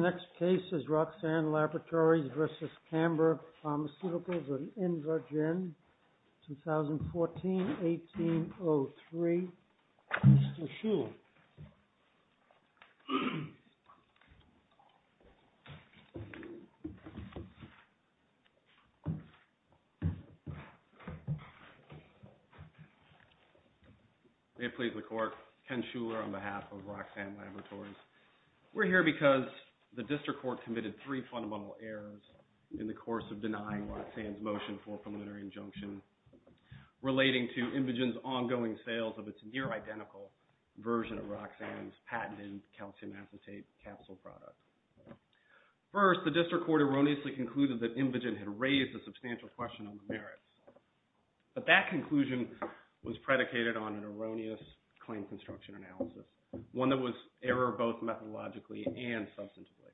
Next case is Roxanne Laboratories versus Canberra Pharmaceuticals in Invergine, 2014, 18-03. Mr. Shuler. May it please the Court. Ken Shuler on behalf of Roxanne Laboratories. We're here because the District Court committed three fundamental errors in the course of denying Roxanne's motion for a preliminary injunction relating to Invergine's ongoing sales of its near-identical version of Roxanne's patented calcium acetate capsule product. First, the District Court erroneously concluded that Invergine had raised a substantial question on the merits. But that conclusion was predicated on an erroneous claim construction analysis, one that was error both methodologically and substantively.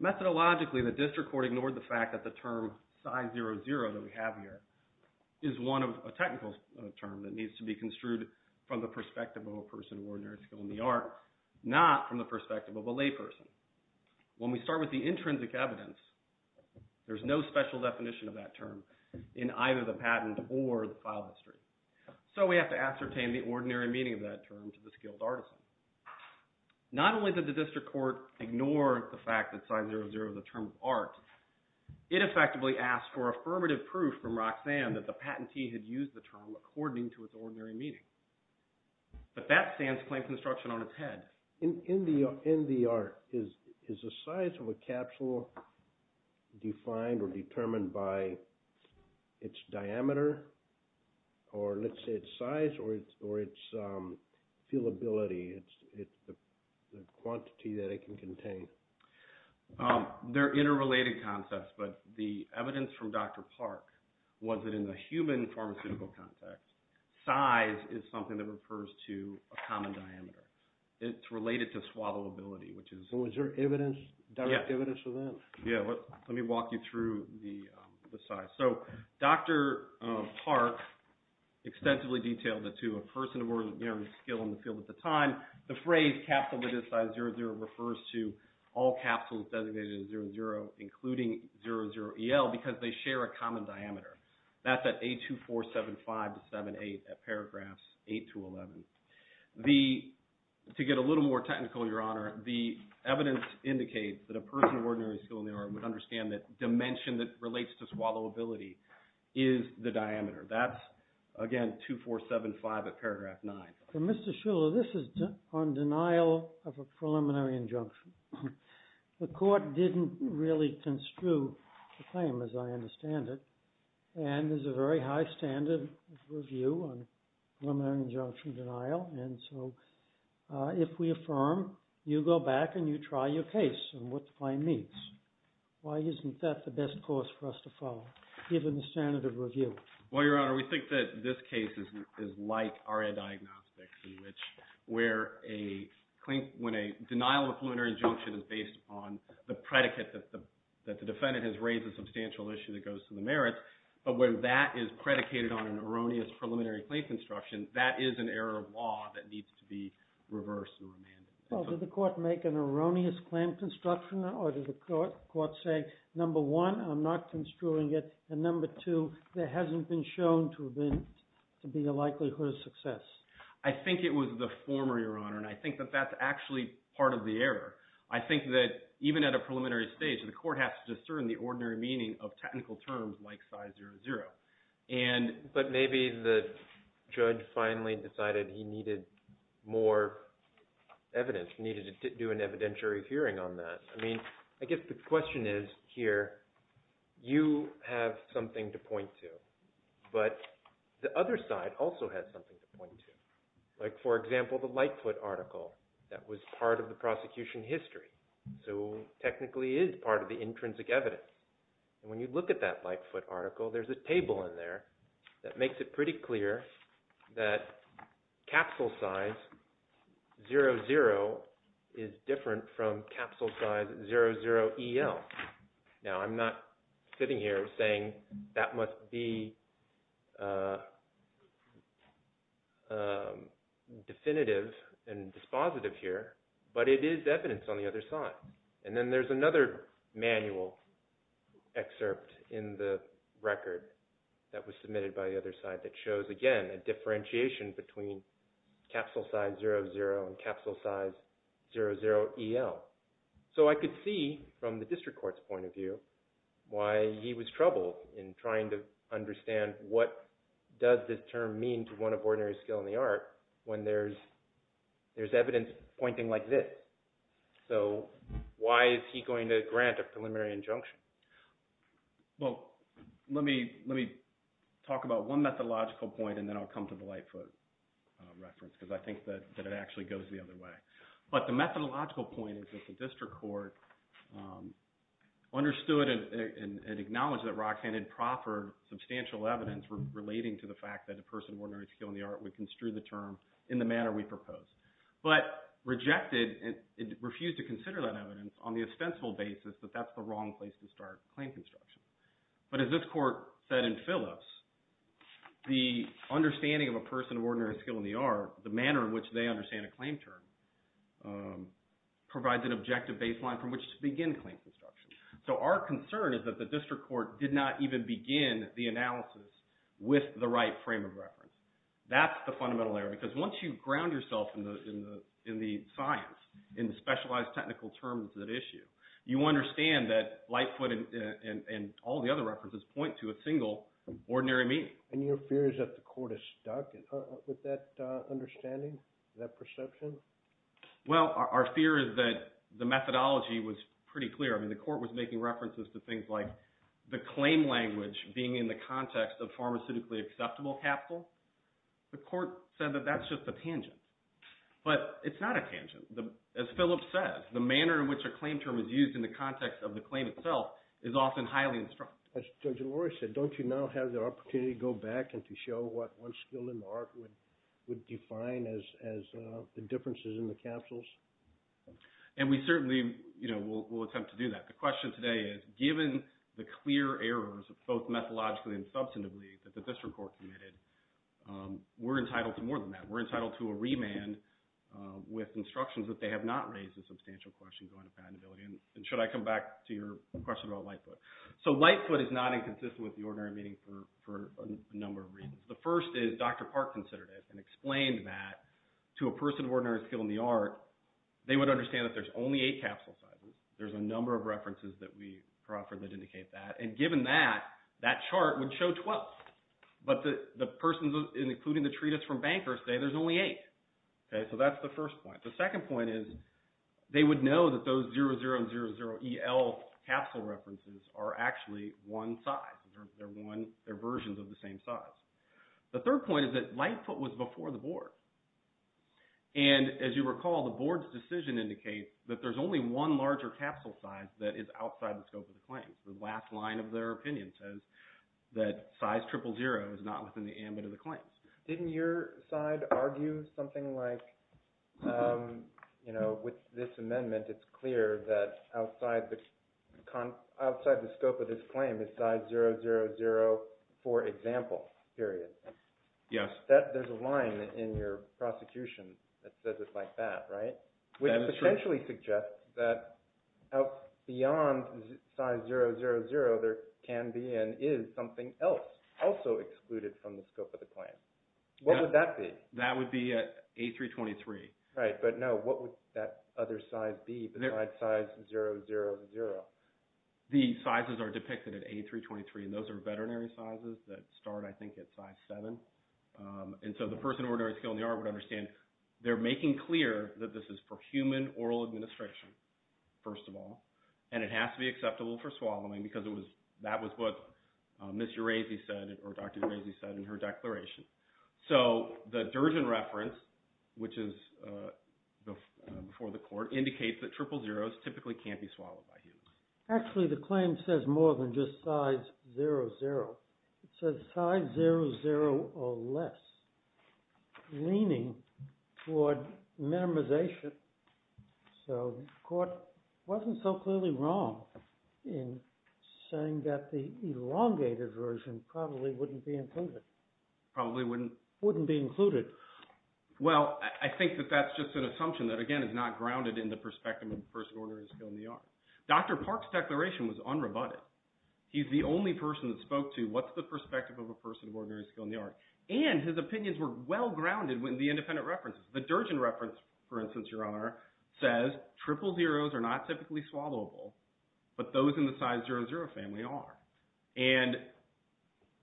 Methodologically, the District Court ignored the fact that the term Psi-00 that we have here is one of a technical term that needs to be construed from the perspective of a person of ordinary skill in the arts, not from the perspective of a layperson. When we start with the intrinsic evidence, there's no special definition of that term in either the patent or the file history. So we have to ascertain the ordinary meaning of that term to the skilled artisan. Not only did the District Court ignore the fact that Psi-00 is a term of art, it effectively asked for affirmative proof from Roxanne that the patentee had used the term according to its ordinary meaning. But that stands claim construction on its head. In the art, is the size of a capsule defined or determined by its diameter, or let's say its size, or its feelability, it's the quantity that it can contain? They're interrelated concepts, but the evidence from Dr. Park was that in the human pharmaceutical context, size is something that refers to a common diameter. It's related to swallowability, which is... So is there evidence, direct evidence of that? Yeah, let me walk you through the size. So Dr. Park extensively detailed that to a person of ordinary skill in the field at the time, the phrase capsule of this size, 00, refers to all capsules designated as 00, including 00EL, because they share a common diameter. That's at A2475 to 78 at paragraphs 8 to 11. To get a little more technical, Your Honor, the evidence indicates that a person of ordinary skill in the art would understand that dimension that relates to swallowability is the diameter. That's, again, 2475 at paragraph 9. Mr. Shuller, this is on denial of a preliminary injunction. The court didn't really construe the claim as I understand it, and there's a very high standard of review on preliminary injunction denial, and so if we affirm, you go back and you try your case on what the claim means. Why isn't that the best course for us to follow, given the standard of review? Well, Your Honor, we think that this case is like RA diagnostics, in which when a denial of a preliminary injunction is based upon the predicate that the defendant has raised a substantial issue that goes to the merits, but when that is predicated on an erroneous preliminary claim construction, that is an error of law that needs to be reversed and remanded. Well, did the court make an erroneous claim construction, or did the court say, number one, I'm not construing it, and number two, there hasn't been shown to be a likelihood of success? I think it was the former, Your Honor, and I think that that's actually part of the error. I think that even at a preliminary stage, the court has to discern the ordinary meaning of technical terms like size 00. But maybe the judge finally decided he needed more evidence, needed to do an evidentiary hearing on that. I mean, I guess the question is here, you have something to point to, but the other side also has something to point to. Like, for example, the Lightfoot article that was part of the prosecution history, so technically is part of the intrinsic evidence. And when you look at that Lightfoot article, there's a table in there that makes it pretty clear that capsule size 00 is different from capsule size 00EL. Now, I'm not sitting here saying that must be definitive and dispositive here, but it is evidence on the other side. And then there's another manual excerpt in the record that was submitted by the other side that shows, again, a differentiation between capsule size 00 and capsule size 00EL. So I could see from the district court's point of view why he was troubled in trying to understand what does this term mean to one of ordinary skill in the art when there's evidence pointing like this. So why is he going to grant a preliminary injunction? Well, let me talk about one methodological point, and then I'll come to the Lightfoot reference because I think that it actually goes the other way. But the methodological point is that the district court understood and acknowledged that Roxanne had proffered substantial evidence relating to the fact that a person of ordinary skill in the art would construe the term in the manner we proposed, but rejected and refused to consider that evidence on the ostensible basis that that's the wrong place to start claim construction. But as this court said in Phyllis, the understanding of a person of ordinary skill in the art, the manner in which they understand a claim term, provides an objective baseline from which to begin claim construction. So our concern is that the district court did not even begin the analysis with the right frame of reference. That's the fundamental error because once you ground yourself in the science, in the specialized technical terms at issue, you understand that Lightfoot and all the other references point to a single ordinary meaning. And your fear is that the court is stuck with that understanding, that perception? Well, our fear is that the methodology was pretty clear. I mean the court was making references to things like the claim language being in the context of pharmaceutically acceptable capital. The court said that that's just a tangent. But it's not a tangent. As Phyllis says, the manner in which a claim term is used in the context of the claim itself is often highly instructive. As Judge Elori said, don't you now have the opportunity to go back and to show what one skill in the art would define as the differences in the capsules? And we certainly will attempt to do that. The question today is given the clear errors, both methodologically and substantively, that the district court committed, we're entitled to more than that. We're entitled to a remand with instructions that they have not raised a substantial question going to patentability. And should I come back to your question about Lightfoot? So Lightfoot is not inconsistent with the ordinary meaning for a number of reasons. The first is Dr. Park considered it and explained that to a person of ordinary skill in the art, they would understand that there's only eight capsule sizes. There's a number of references that we proffer that indicate that. And given that, that chart would show 12. But the persons, including the treatise from Bankersday, there's only eight. So that's the first point. The second point is they would know that those 00 and 00EL capsule references are actually one size. They're versions of the same size. The third point is that Lightfoot was before the board. And as you recall, the board's decision indicates that there's only one larger capsule size that is outside the scope of the claims. The last line of their opinion says that size 000 is not within the ambit of the claims. Didn't your side argue something like, you know, with this amendment, it's clear that outside the scope of this claim is size 000 for example, period? Yes. There's a line in your prosecution that says it like that, right? That is true. Which potentially suggests that beyond size 000, there can be and is something else also excluded from the scope of the claim. What would that be? That would be at A323. Right. But no, what would that other size be besides size 000? The sizes are depicted at A323. And those are veterinary sizes that start, I think, at size 7. And so the person at ordinary skill in the art would understand they're making clear that this is for human oral administration, first of all. And it has to be acceptable for swallowing because that was what Ms. Urazi said or Dr. Urazi said in her declaration. So the Durden reference, which is before the court, indicates that triple zeros typically can't be swallowed by humans. Actually, the claim says more than just size 00. It says size 00 or less, meaning for minimization. So the court wasn't so clearly wrong in saying that the elongated version probably wouldn't be included. Probably wouldn't? Wouldn't be included. Well, I think that that's just an assumption that, again, is not grounded in the perspective of the person of ordinary skill in the art. Dr. Park's declaration was unrebutted. He's the only person that spoke to what's the perspective of a person of ordinary skill in the art. And his opinions were well grounded in the independent references. The Durden reference, for instance, Your Honor, says triple zeros are not typically swallowable, but those in the size 00 family are. And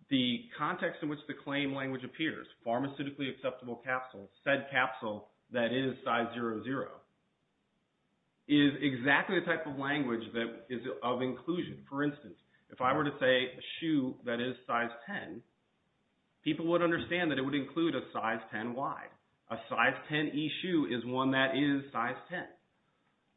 the context in which the claim language appears, pharmaceutically acceptable capsule, said capsule that is size 00, is exactly the type of language that is of inclusion. For instance, if I were to say a shoe that is size 10, people would understand that it would include a size 10 wide, a size 10 e-shoe is one that is size 10.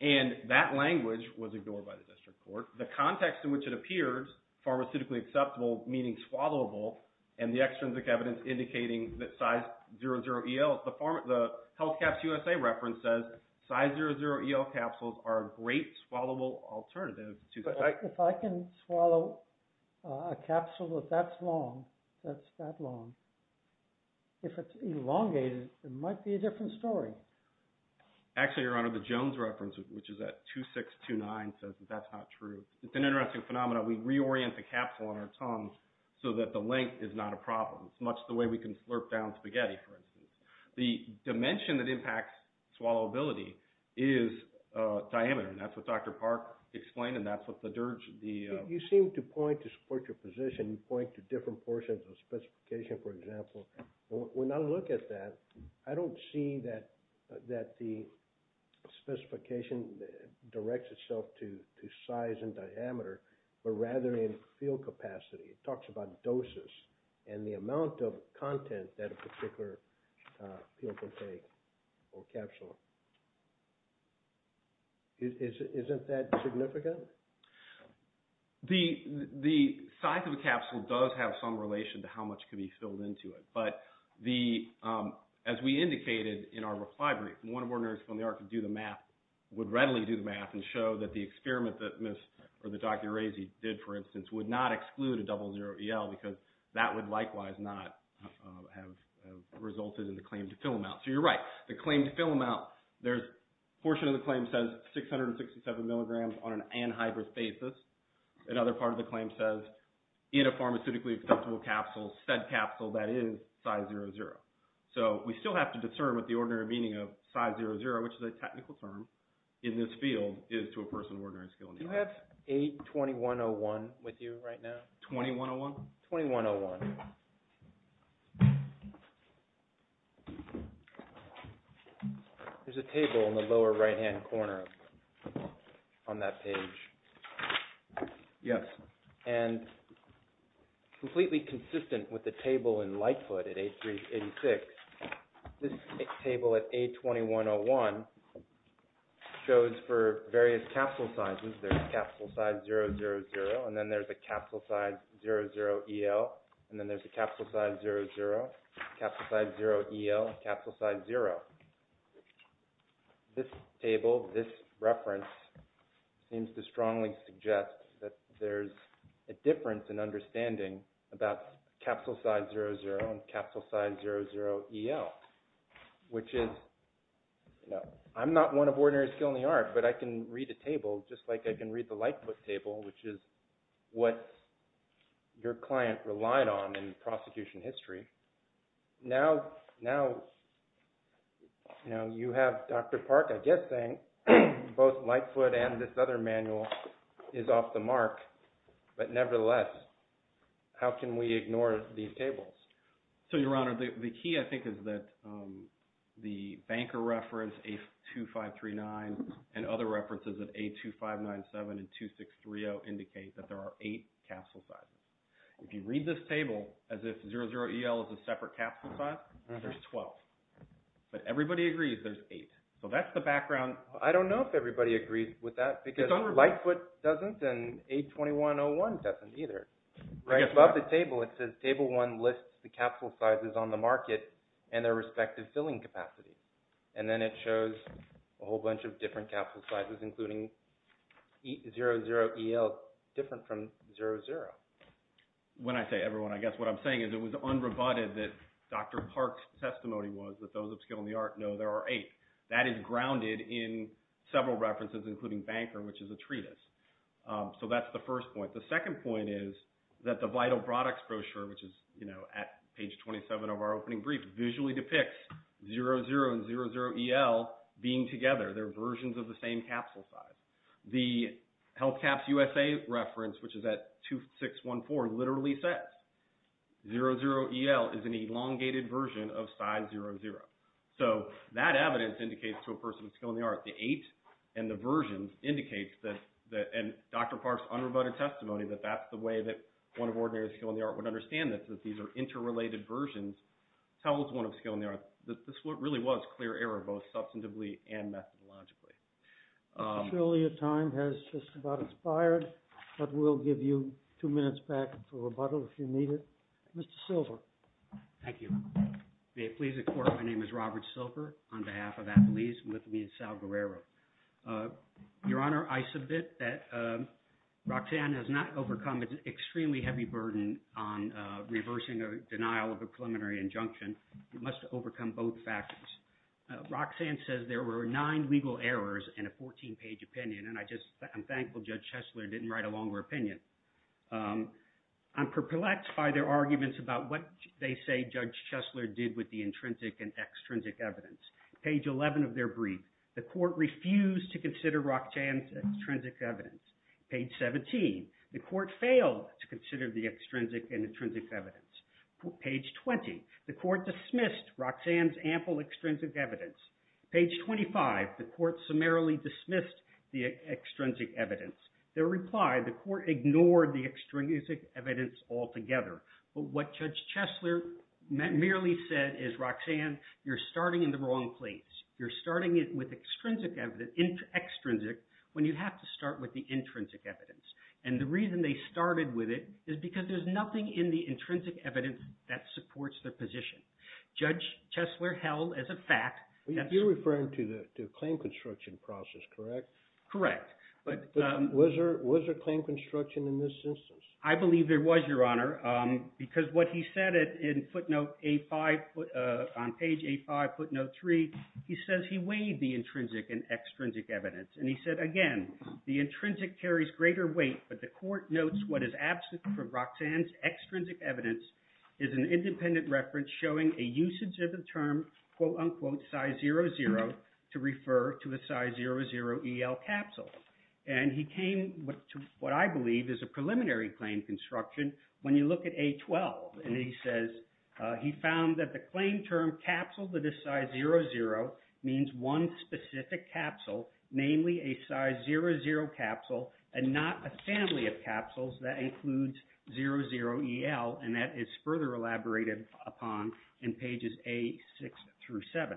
And that language was ignored by the district court. The context in which it appears, pharmaceutically acceptable, meaning swallowable, and the extrinsic evidence indicating that size 00 EL, the Health Caps USA reference says size 00 EL capsules are a great swallowable alternative. If I can swallow a capsule that's that long, if it's elongated, it might be a different story. Actually, Your Honor, the Jones reference, which is at 2629, says that that's not true. It's an interesting phenomenon. We reorient the capsule on our tongue so that the length is not a problem. It's much the way we can slurp down spaghetti, for instance. The dimension that impacts swallowability is diameter, and that's what Dr. Park explained, and that's what the Dirge, the… You seem to point to support your position, point to different portions of specification, for example. When I look at that, I don't see that the specification directs itself to size and diameter, but rather in field capacity. It talks about doses and the amount of content that a particular field can take or capsule. Isn't that significant? The size of a capsule does have some relation to how much can be filled into it, but as we indicated in our reply brief, one of our nurses from the ARC would readily do the math and show that the experiment that Ms. or that Dr. Rasey did, for instance, would not exclude a 00 EL because that would likewise not have resulted in the claim to fill amount. So you're right. The claim to fill amount, there's a portion of the claim says 667 milligrams on an anhydrous basis. Another part of the claim says in a pharmaceutically acceptable capsule, said capsule, that is size 00. So we still have to discern what the ordinary meaning of size 00, which is a technical term in this field, is to a person of ordinary skill. Do you have A2101 with you right now? 2101? 2101. There's a table in the lower right-hand corner on that page. Yes. And completely consistent with the table in Lightfoot at A386, this table at A2101 shows for various capsule sizes. There's capsule size 000, and then there's a capsule size 00 EL, and then there's a capsule size 00, capsule size 0 EL, capsule size 0. This table, this reference seems to strongly suggest that there's a difference in understanding about capsule size 00 and capsule size 00 EL, which is, you know, I'm not one of ordinary skill in the art, but I can read a table just like I can read the Lightfoot table, which is what your client relied on in prosecution history. Now, you know, you have Dr. Park, I guess, saying both Lightfoot and this other manual is off the mark, but nevertheless, how can we ignore these tables? So, Your Honor, the key, I think, is that the Banker reference, A2539, and other references of A2597 and 2630 indicate that there are eight capsule sizes. If you read this table as if 00 EL is a separate capsule size, there's 12. But everybody agrees there's eight. So that's the background. I don't know if everybody agrees with that because Lightfoot doesn't and A2101 doesn't either. Right above the table, it says table one lists the capsule sizes on the market and their respective filling capacity. And then it shows a whole bunch of different capsule sizes, including 00 EL different from 00. When I say everyone, I guess what I'm saying is it was unrebutted that Dr. Park's testimony was that those of skill in the art know there are eight. That is grounded in several references, including Banker, which is a treatise. So that's the first point. The second point is that the Vital Products brochure, which is at page 27 of our opening brief, visually depicts 00 and 00 EL being together. They're versions of the same capsule size. The Health Caps USA reference, which is at 2614, literally says 00 EL is an elongated version of size 00. So that evidence indicates to a person of skill in the art the eight and the versions indicates that. And Dr. Park's unrebutted testimony that that's the way that one of ordinary skill in the art would understand this, that these are interrelated versions, tells one of skill in the art that this really was clear error, both substantively and methodologically. Surely your time has just about expired, but we'll give you two minutes back for rebuttal if you need it. Mr. Silver. Thank you. May it please the Court, my name is Robert Silver on behalf of Appalese and with me is Sal Guerrero. Your Honor, I submit that Roxanne has not overcome an extremely heavy burden on reversing a denial of a preliminary injunction. You must overcome both factors. Roxanne says there were nine legal errors in a 14-page opinion, and I'm thankful Judge Chesler didn't write a longer opinion. I'm perplexed by their arguments about what they say Judge Chesler did with the intrinsic and extrinsic evidence. Page 11 of their brief, the Court refused to consider Roxanne's extrinsic evidence. Page 17, the Court failed to consider the extrinsic and intrinsic evidence. Page 20, the Court dismissed Roxanne's ample extrinsic evidence. Page 25, the Court summarily dismissed the extrinsic evidence. Their reply, the Court ignored the extrinsic evidence altogether. But what Judge Chesler merely said is, Roxanne, you're starting in the wrong place. You're starting it with extrinsic evidence, extrinsic, when you have to start with the intrinsic evidence. And the reason they started with it is because there's nothing in the intrinsic evidence that supports their position. Judge Chesler held as a fact... You're referring to the claim construction process, correct? Correct, but... Was there claim construction in this instance? I believe there was, Your Honor, because what he said in footnote A5, on page A5, footnote 3, he says he weighed the intrinsic and extrinsic evidence. And he said, again, the intrinsic carries greater weight, but the Court notes what is absent from Roxanne's extrinsic evidence is an independent reference showing a usage of the term, quote-unquote, Psy00 to refer to a Psy00EL capsule. And he came to what I believe is a preliminary claim construction when you look at A12. And he says he found that the claim term capsule that is Psy00 means one specific capsule, namely a Psy00 capsule and not a family of capsules that includes 00EL, and that is further elaborated upon in pages A6 through 7.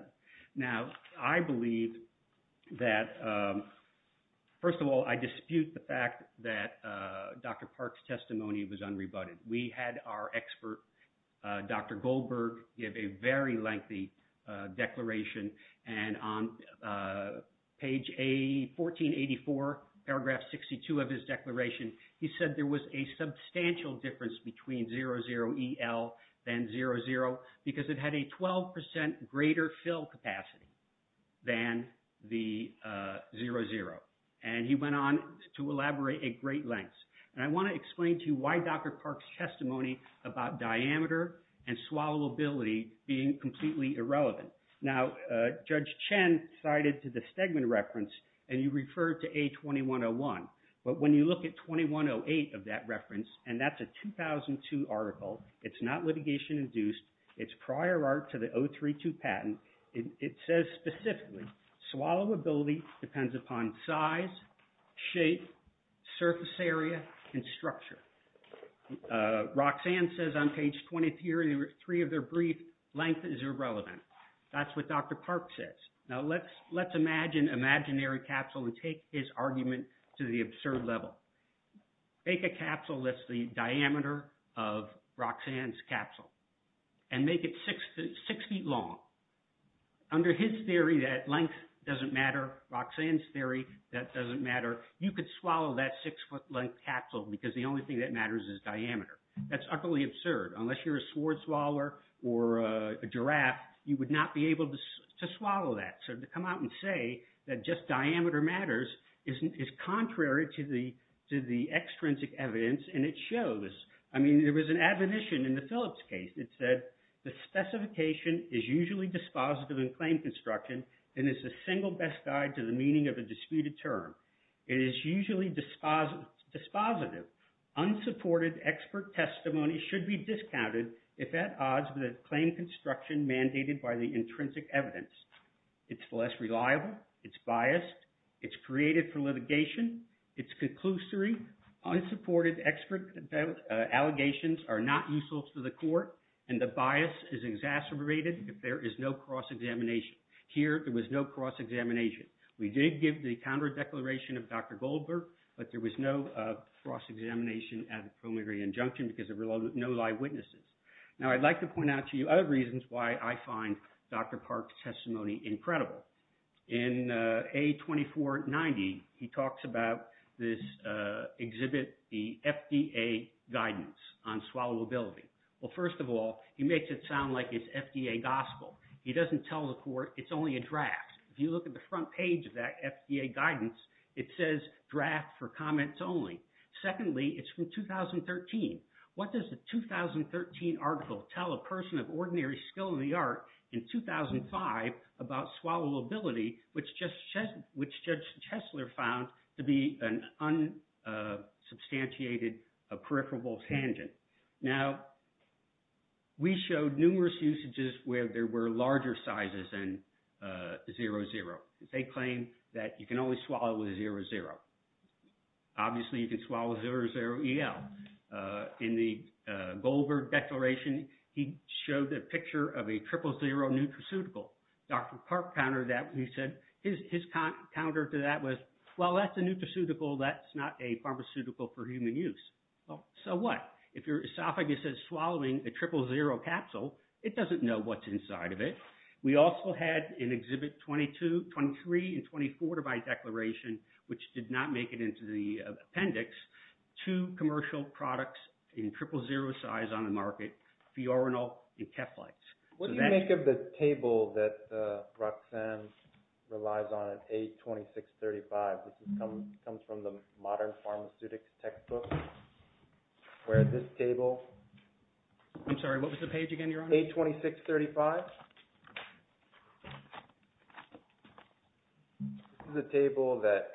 Now, I believe that... First of all, I dispute the fact that Dr. Park's testimony was unrebutted. We had our expert, Dr. Goldberg, give a very lengthy declaration. And on page A1484, paragraph 62 of his declaration, he said there was a substantial difference between 00EL and 00 because it had a 12% greater fill capacity than the 00. And he went on to elaborate at great lengths. And I want to explain to you why Dr. Park's testimony about diameter and swallowability being completely irrelevant. Now, Judge Chen cited the Stegman reference, and you referred to A2101. But when you look at 2108 of that reference, and that's a 2002 article, it's not litigation-induced. It's prior art to the 032 patent. It says specifically, swallowability depends upon size, shape, surface area, and structure. Roxanne says on page 23 of their brief, length is irrelevant. That's what Dr. Park says. Now, let's imagine imaginary capsule and take his argument to the absurd level. Make a capsule that's the diameter of Roxanne's capsule. And make it six feet long. Under his theory, that length doesn't matter. Roxanne's theory, that doesn't matter. You could swallow that six-foot-length capsule because the only thing that matters is diameter. That's utterly absurd. Unless you're a sword swallower or a giraffe, you would not be able to swallow that. So to come out and say that just diameter matters is contrary to the extrinsic evidence, and it shows. I mean, there was an admonition in the Phillips case. It said, the specification is usually dispositive in claim construction and is a single best guide to the meaning of a disputed term. It is usually dispositive. Unsupported expert testimony should be discounted if at odds with a claim construction mandated by the intrinsic evidence. It's less reliable. It's biased. It's created for litigation. It's conclusory. Unsupported expert allegations are not useful to the court, and the bias is exacerbated if there is no cross-examination. Here, there was no cross-examination. We did give the counter-declaration of Dr. Goldberg, but there was no cross-examination at the preliminary injunction because there were no live witnesses. Now, I'd like to point out to you other reasons why I find Dr. Park's testimony incredible. In A2490, he talks about this exhibit, the FDA guidance on swallowability. Well, first of all, he makes it sound like it's FDA gospel. He doesn't tell the court it's only a draft. If you look at the front page of that FDA guidance, it says draft for comments only. Secondly, it's from 2013. What does the 2013 article tell a person of ordinary skill in the art in 2005 about swallowability, which Judge Hessler found to be an unsubstantiated, a peripheral tangent? Now, we showed numerous usages where there were larger sizes than 00. They claim that you can only swallow with 00. Obviously, you can swallow 00EL. In the Goldberg declaration, he showed a picture of a triple zero nutraceutical. Dr. Park countered that. He said his counter to that was, well, that's a nutraceutical. That's not a pharmaceutical for human use. Well, so what? If your esophagus is swallowing a triple zero capsule, it doesn't know what's inside of it. We also had in Exhibit 23 and 24 of my declaration, which did not make it into the appendix, two commercial products in triple zero size on the market, Fiorinol and Keflite. What do you make of the table that Roxanne relies on at A2635? This comes from the Modern Pharmaceutics textbook, where this table… I'm sorry. What was the page again, Your Honor? A2635. This is a table that,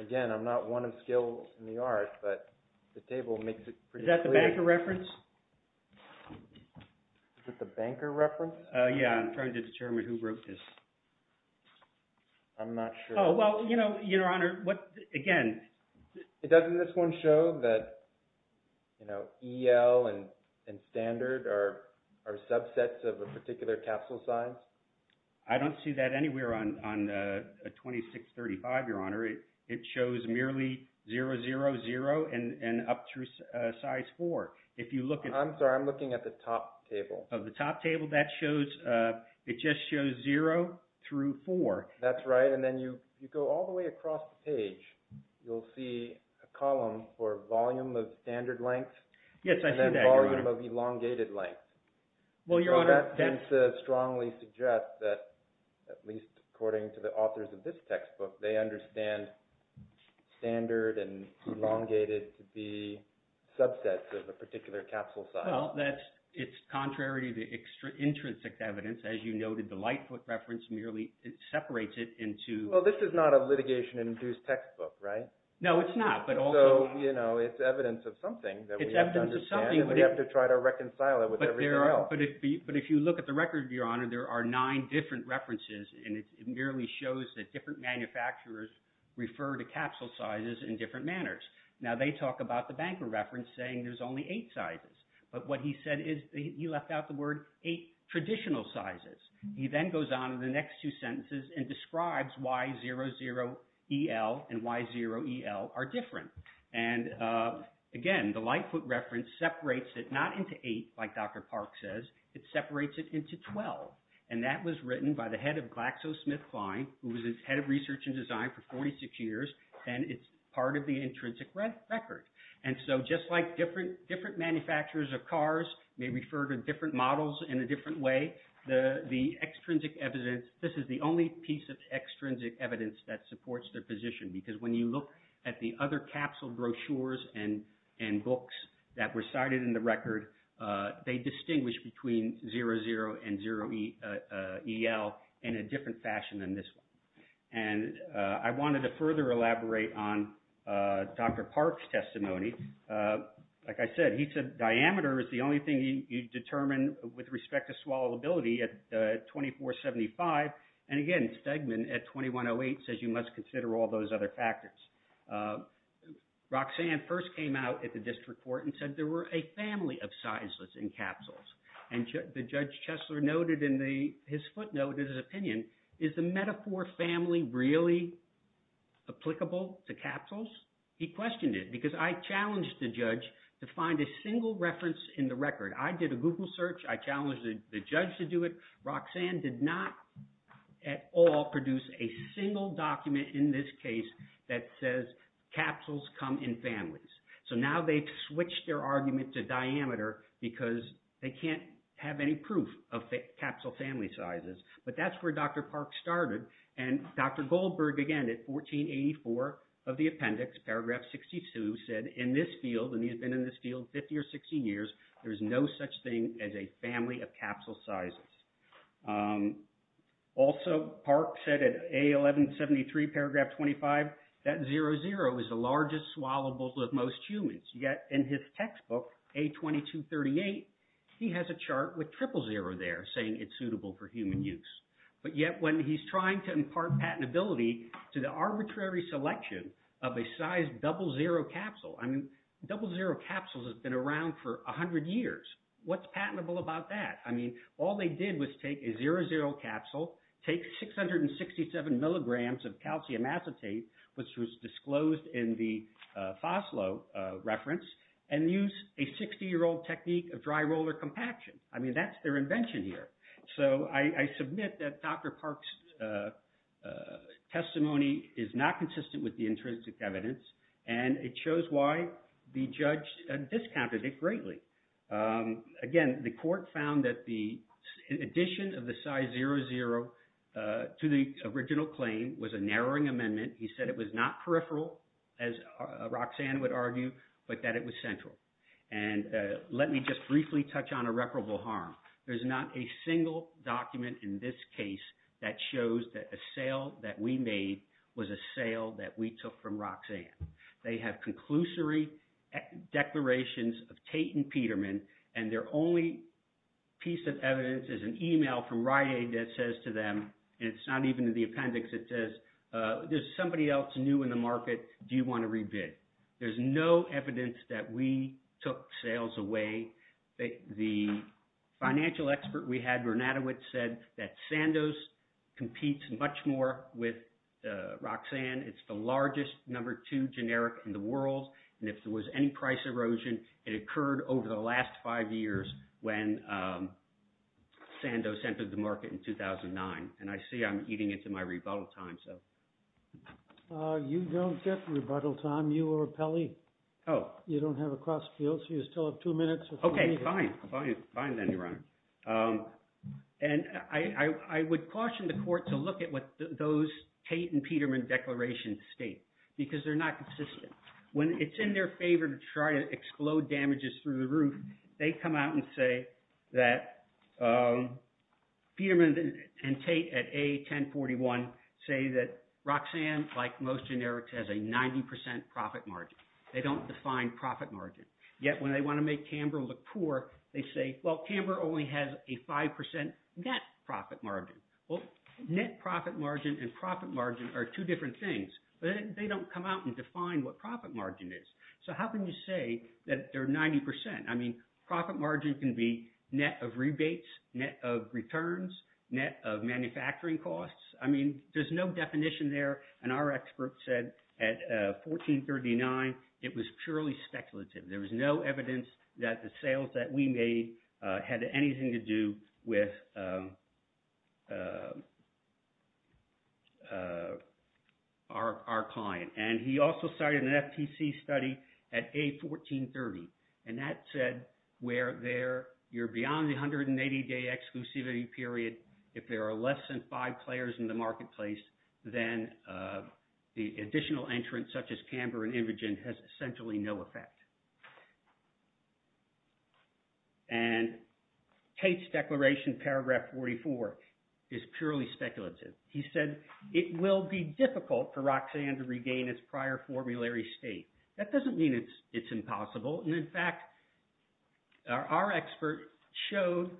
again, I'm not one of skills in the art, but the table makes it pretty clear. Is that the banker reference? Is it the banker reference? Yeah. I'm trying to determine who wrote this. I'm not sure. Well, Your Honor, again… Doesn't this one show that EL and standard are subsets of a particular capsule size? I don't see that anywhere on A2635, Your Honor. It shows merely zero, zero, zero, and up through size four. If you look at… I'm sorry. I'm looking at the top table. The top table, that shows… It just shows zero through four. That's right, and then you go all the way across the page. You'll see a column for volume of standard length… Yes, I see that, Your Honor. …and then volume of elongated length. Well, Your Honor… That seems to strongly suggest that, at least according to the authors of this textbook, they understand standard and elongated to be subsets of a particular capsule size. Well, it's contrary to the intrinsic evidence. As you noted, the Lightfoot reference merely separates it into… Well, this is not a litigation-induced textbook, right? No, it's not, but also… So, you know, it's evidence of something that we have to understand… It's evidence of something. …and we have to try to reconcile it with everything else. But if you look at the record, Your Honor, there are nine different references, and it merely shows that different manufacturers refer to capsule sizes in different manners. Now, they talk about the Banker reference saying there's only eight sizes, but what he said is he left out the word eight traditional sizes. He then goes on in the next two sentences and describes why 00EL and Y0EL are different. And, again, the Lightfoot reference separates it not into eight, like Dr. Park says. It separates it into 12, and that was written by the head of GlaxoSmithKline, who was its head of research and design for 46 years, and it's part of the intrinsic record. And so just like different manufacturers of cars may refer to different models in a different way, the extrinsic evidence, this is the only piece of extrinsic evidence that supports their position because when you look at the other capsule brochures and books that were cited in the record, they distinguish between 00 and 0EL in a different fashion than this one. And I wanted to further elaborate on Dr. Park's testimony. Like I said, he said diameter is the only thing you determine with respect to swallowability at 2475, and, again, Stegman at 2108 says you must consider all those other factors. Roxanne first came out at the district court and said there were a family of sizeless encapsules. And Judge Chesler noted in his footnote in his opinion, is the metaphor family really applicable to capsules? He questioned it because I challenged the judge to find a single reference in the record. I did a Google search. I challenged the judge to do it. Roxanne did not at all produce a single document in this case that says capsules come in families. So now they've switched their argument to diameter because they can't have any proof of capsule family sizes. But that's where Dr. Park started. And Dr. Goldberg, again, at 1484 of the appendix, paragraph 62, said in this field, there is no such thing as a family of capsule sizes. Also, Park said at A1173, paragraph 25, that 00 is the largest swallowable of most humans. Yet in his textbook, A2238, he has a chart with triple zero there saying it's suitable for human use. But yet when he's trying to impart patentability to the arbitrary selection of a size 00 capsule, I mean, 00 capsules have been around for 100 years. What's patentable about that? I mean, all they did was take a 00 capsule, take 667 milligrams of calcium acetate, which was disclosed in the FOSLO reference, and use a 60-year-old technique of dry roller compaction. I mean, that's their invention here. So I submit that Dr. Park's testimony is not consistent with the intrinsic evidence, and it shows why the judge discounted it greatly. Again, the court found that the addition of the size 00 to the original claim was a narrowing amendment. He said it was not peripheral, as Roxanne would argue, but that it was central. And let me just briefly touch on irreparable harm. There's not a single document in this case that shows that a sale that we made was a sale that we took from Roxanne. They have conclusory declarations of Tate and Peterman, and their only piece of evidence is an email from Rite Aid that says to them, and it's not even in the appendix, it says, there's somebody else new in the market, do you want to rebid? There's no evidence that we took sales away. The financial expert we had, Bernadowitz, said that Sandoz competes much more with Roxanne. It's the largest number two generic in the world, and if there was any price erosion, it occurred over the last five years when Sandoz entered the market in 2009. And I see I'm eating into my rebuttal time. You don't get rebuttal time. You are a Pelley. Oh. You don't have a cross field, so you still have two minutes. Okay, fine. Fine then, Your Honor. And I would caution the court to look at what those Tate and Peterman declarations state, because they're not consistent. When it's in their favor to try to explode damages through the roof, they come out and say that Peterman and Tate at A1041 say that Roxanne, like most generics, has a 90% profit margin. They don't define profit margin. Yet when they want to make Canberra look poor, they say, well, Canberra only has a 5% net profit margin. Well, net profit margin and profit margin are two different things, but they don't come out and define what profit margin is. So how can you say that they're 90%? I mean, profit margin can be net of rebates, net of returns, net of manufacturing costs. I mean, there's no definition there, and our expert said at 1439 it was purely speculative. There was no evidence that the sales that we made had anything to do with our client. And he also cited an FTC study at A1430, and that said where you're beyond the 180-day exclusivity period, if there are less than five players in the marketplace, then the additional entrants, such as Canberra and Indigent, has essentially no effect. And Tate's declaration, paragraph 44, is purely speculative. He said it will be difficult for Roxanne to regain its prior formulary state. That doesn't mean it's impossible. And in fact, our expert showed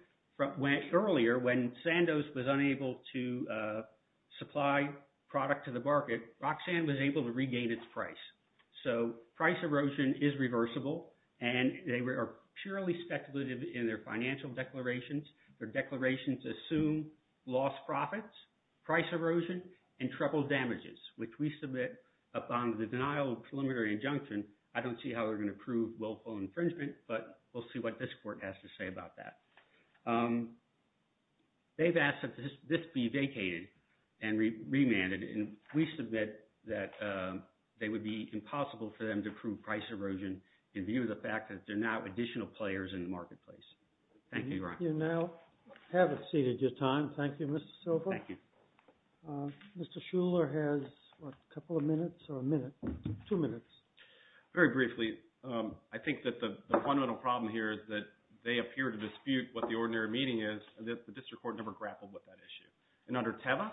earlier when Sandoz was unable to supply product to the market, Roxanne was able to regain its price. So price erosion is reversible, and they are purely speculative in their financial declarations. Their declarations assume lost profits, price erosion, and triple damages, which we submit upon the denial of preliminary injunction. I don't see how we're going to prove willful infringement, but we'll see what this court has to say about that. They've asked that this be vacated and remanded, and we submit that it would be impossible for them to prove price erosion in view of the fact that there are now additional players in the marketplace. Thank you, Your Honor. You now have exceeded your time. Thank you, Mr. Silver. Thank you. Mr. Shuler has a couple of minutes or a minute, two minutes. Very briefly, I think that the fundamental problem here is that they appear to dispute what the ordinary meaning is, and that the district court never grappled with that issue. And under Teva,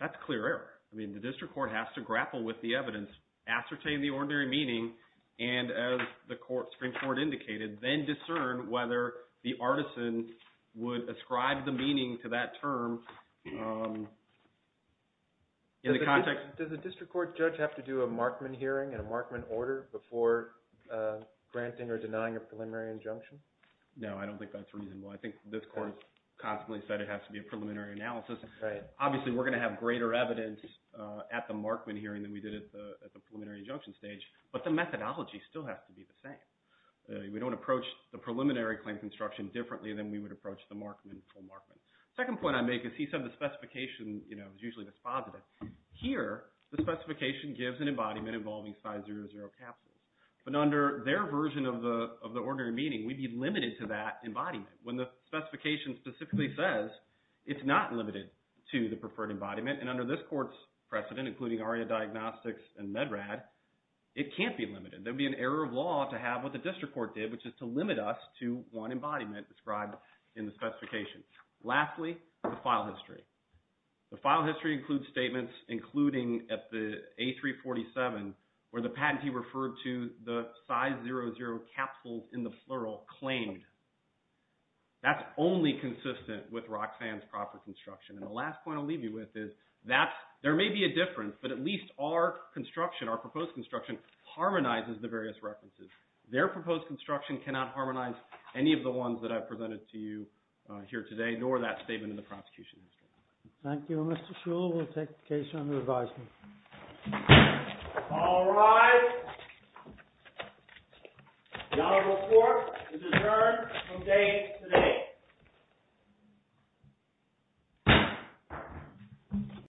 that's clear error. I mean, the district court has to grapple with the evidence, ascertain the ordinary meaning, and as the Supreme Court indicated, then discern whether the artisan would ascribe the meaning to that term in the context. Does a district court judge have to do a Markman hearing and a Markman order before granting or denying a preliminary injunction? No, I don't think that's reasonable. I think this court has constantly said it has to be a preliminary analysis. Obviously, we're going to have greater evidence at the Markman hearing than we did at the preliminary injunction stage, but the methodology still has to be the same. We don't approach the preliminary claim construction differently than we would approach the Markman or Markman. The second point I make is he said the specification is usually dispositive. Here, the specification gives an embodiment involving size 00 capsules, but under their version of the ordinary meaning, we'd be limited to that embodiment. When the specification specifically says it's not limited to the preferred embodiment, and under this court's precedent, including ARIA Diagnostics and MedRAD, it can't be limited. There would be an error of law to have what the district court did, which is to limit us to one embodiment described in the specification. Lastly, the file history. The file history includes statements, including at the A347, where the patentee referred to the size 00 capsules in the plural claimed. That's only consistent with Roxanne's proper construction, and the last point I'll leave you with is there may be a difference, but at least our construction, our proposed construction, harmonizes the various references. Their proposed construction cannot harmonize any of the ones that I've presented to you here today, and I ignore that statement in the prosecution history. Thank you, Mr. Shull. We'll take the case under advisement. All rise. The honorable court is adjourned from date today.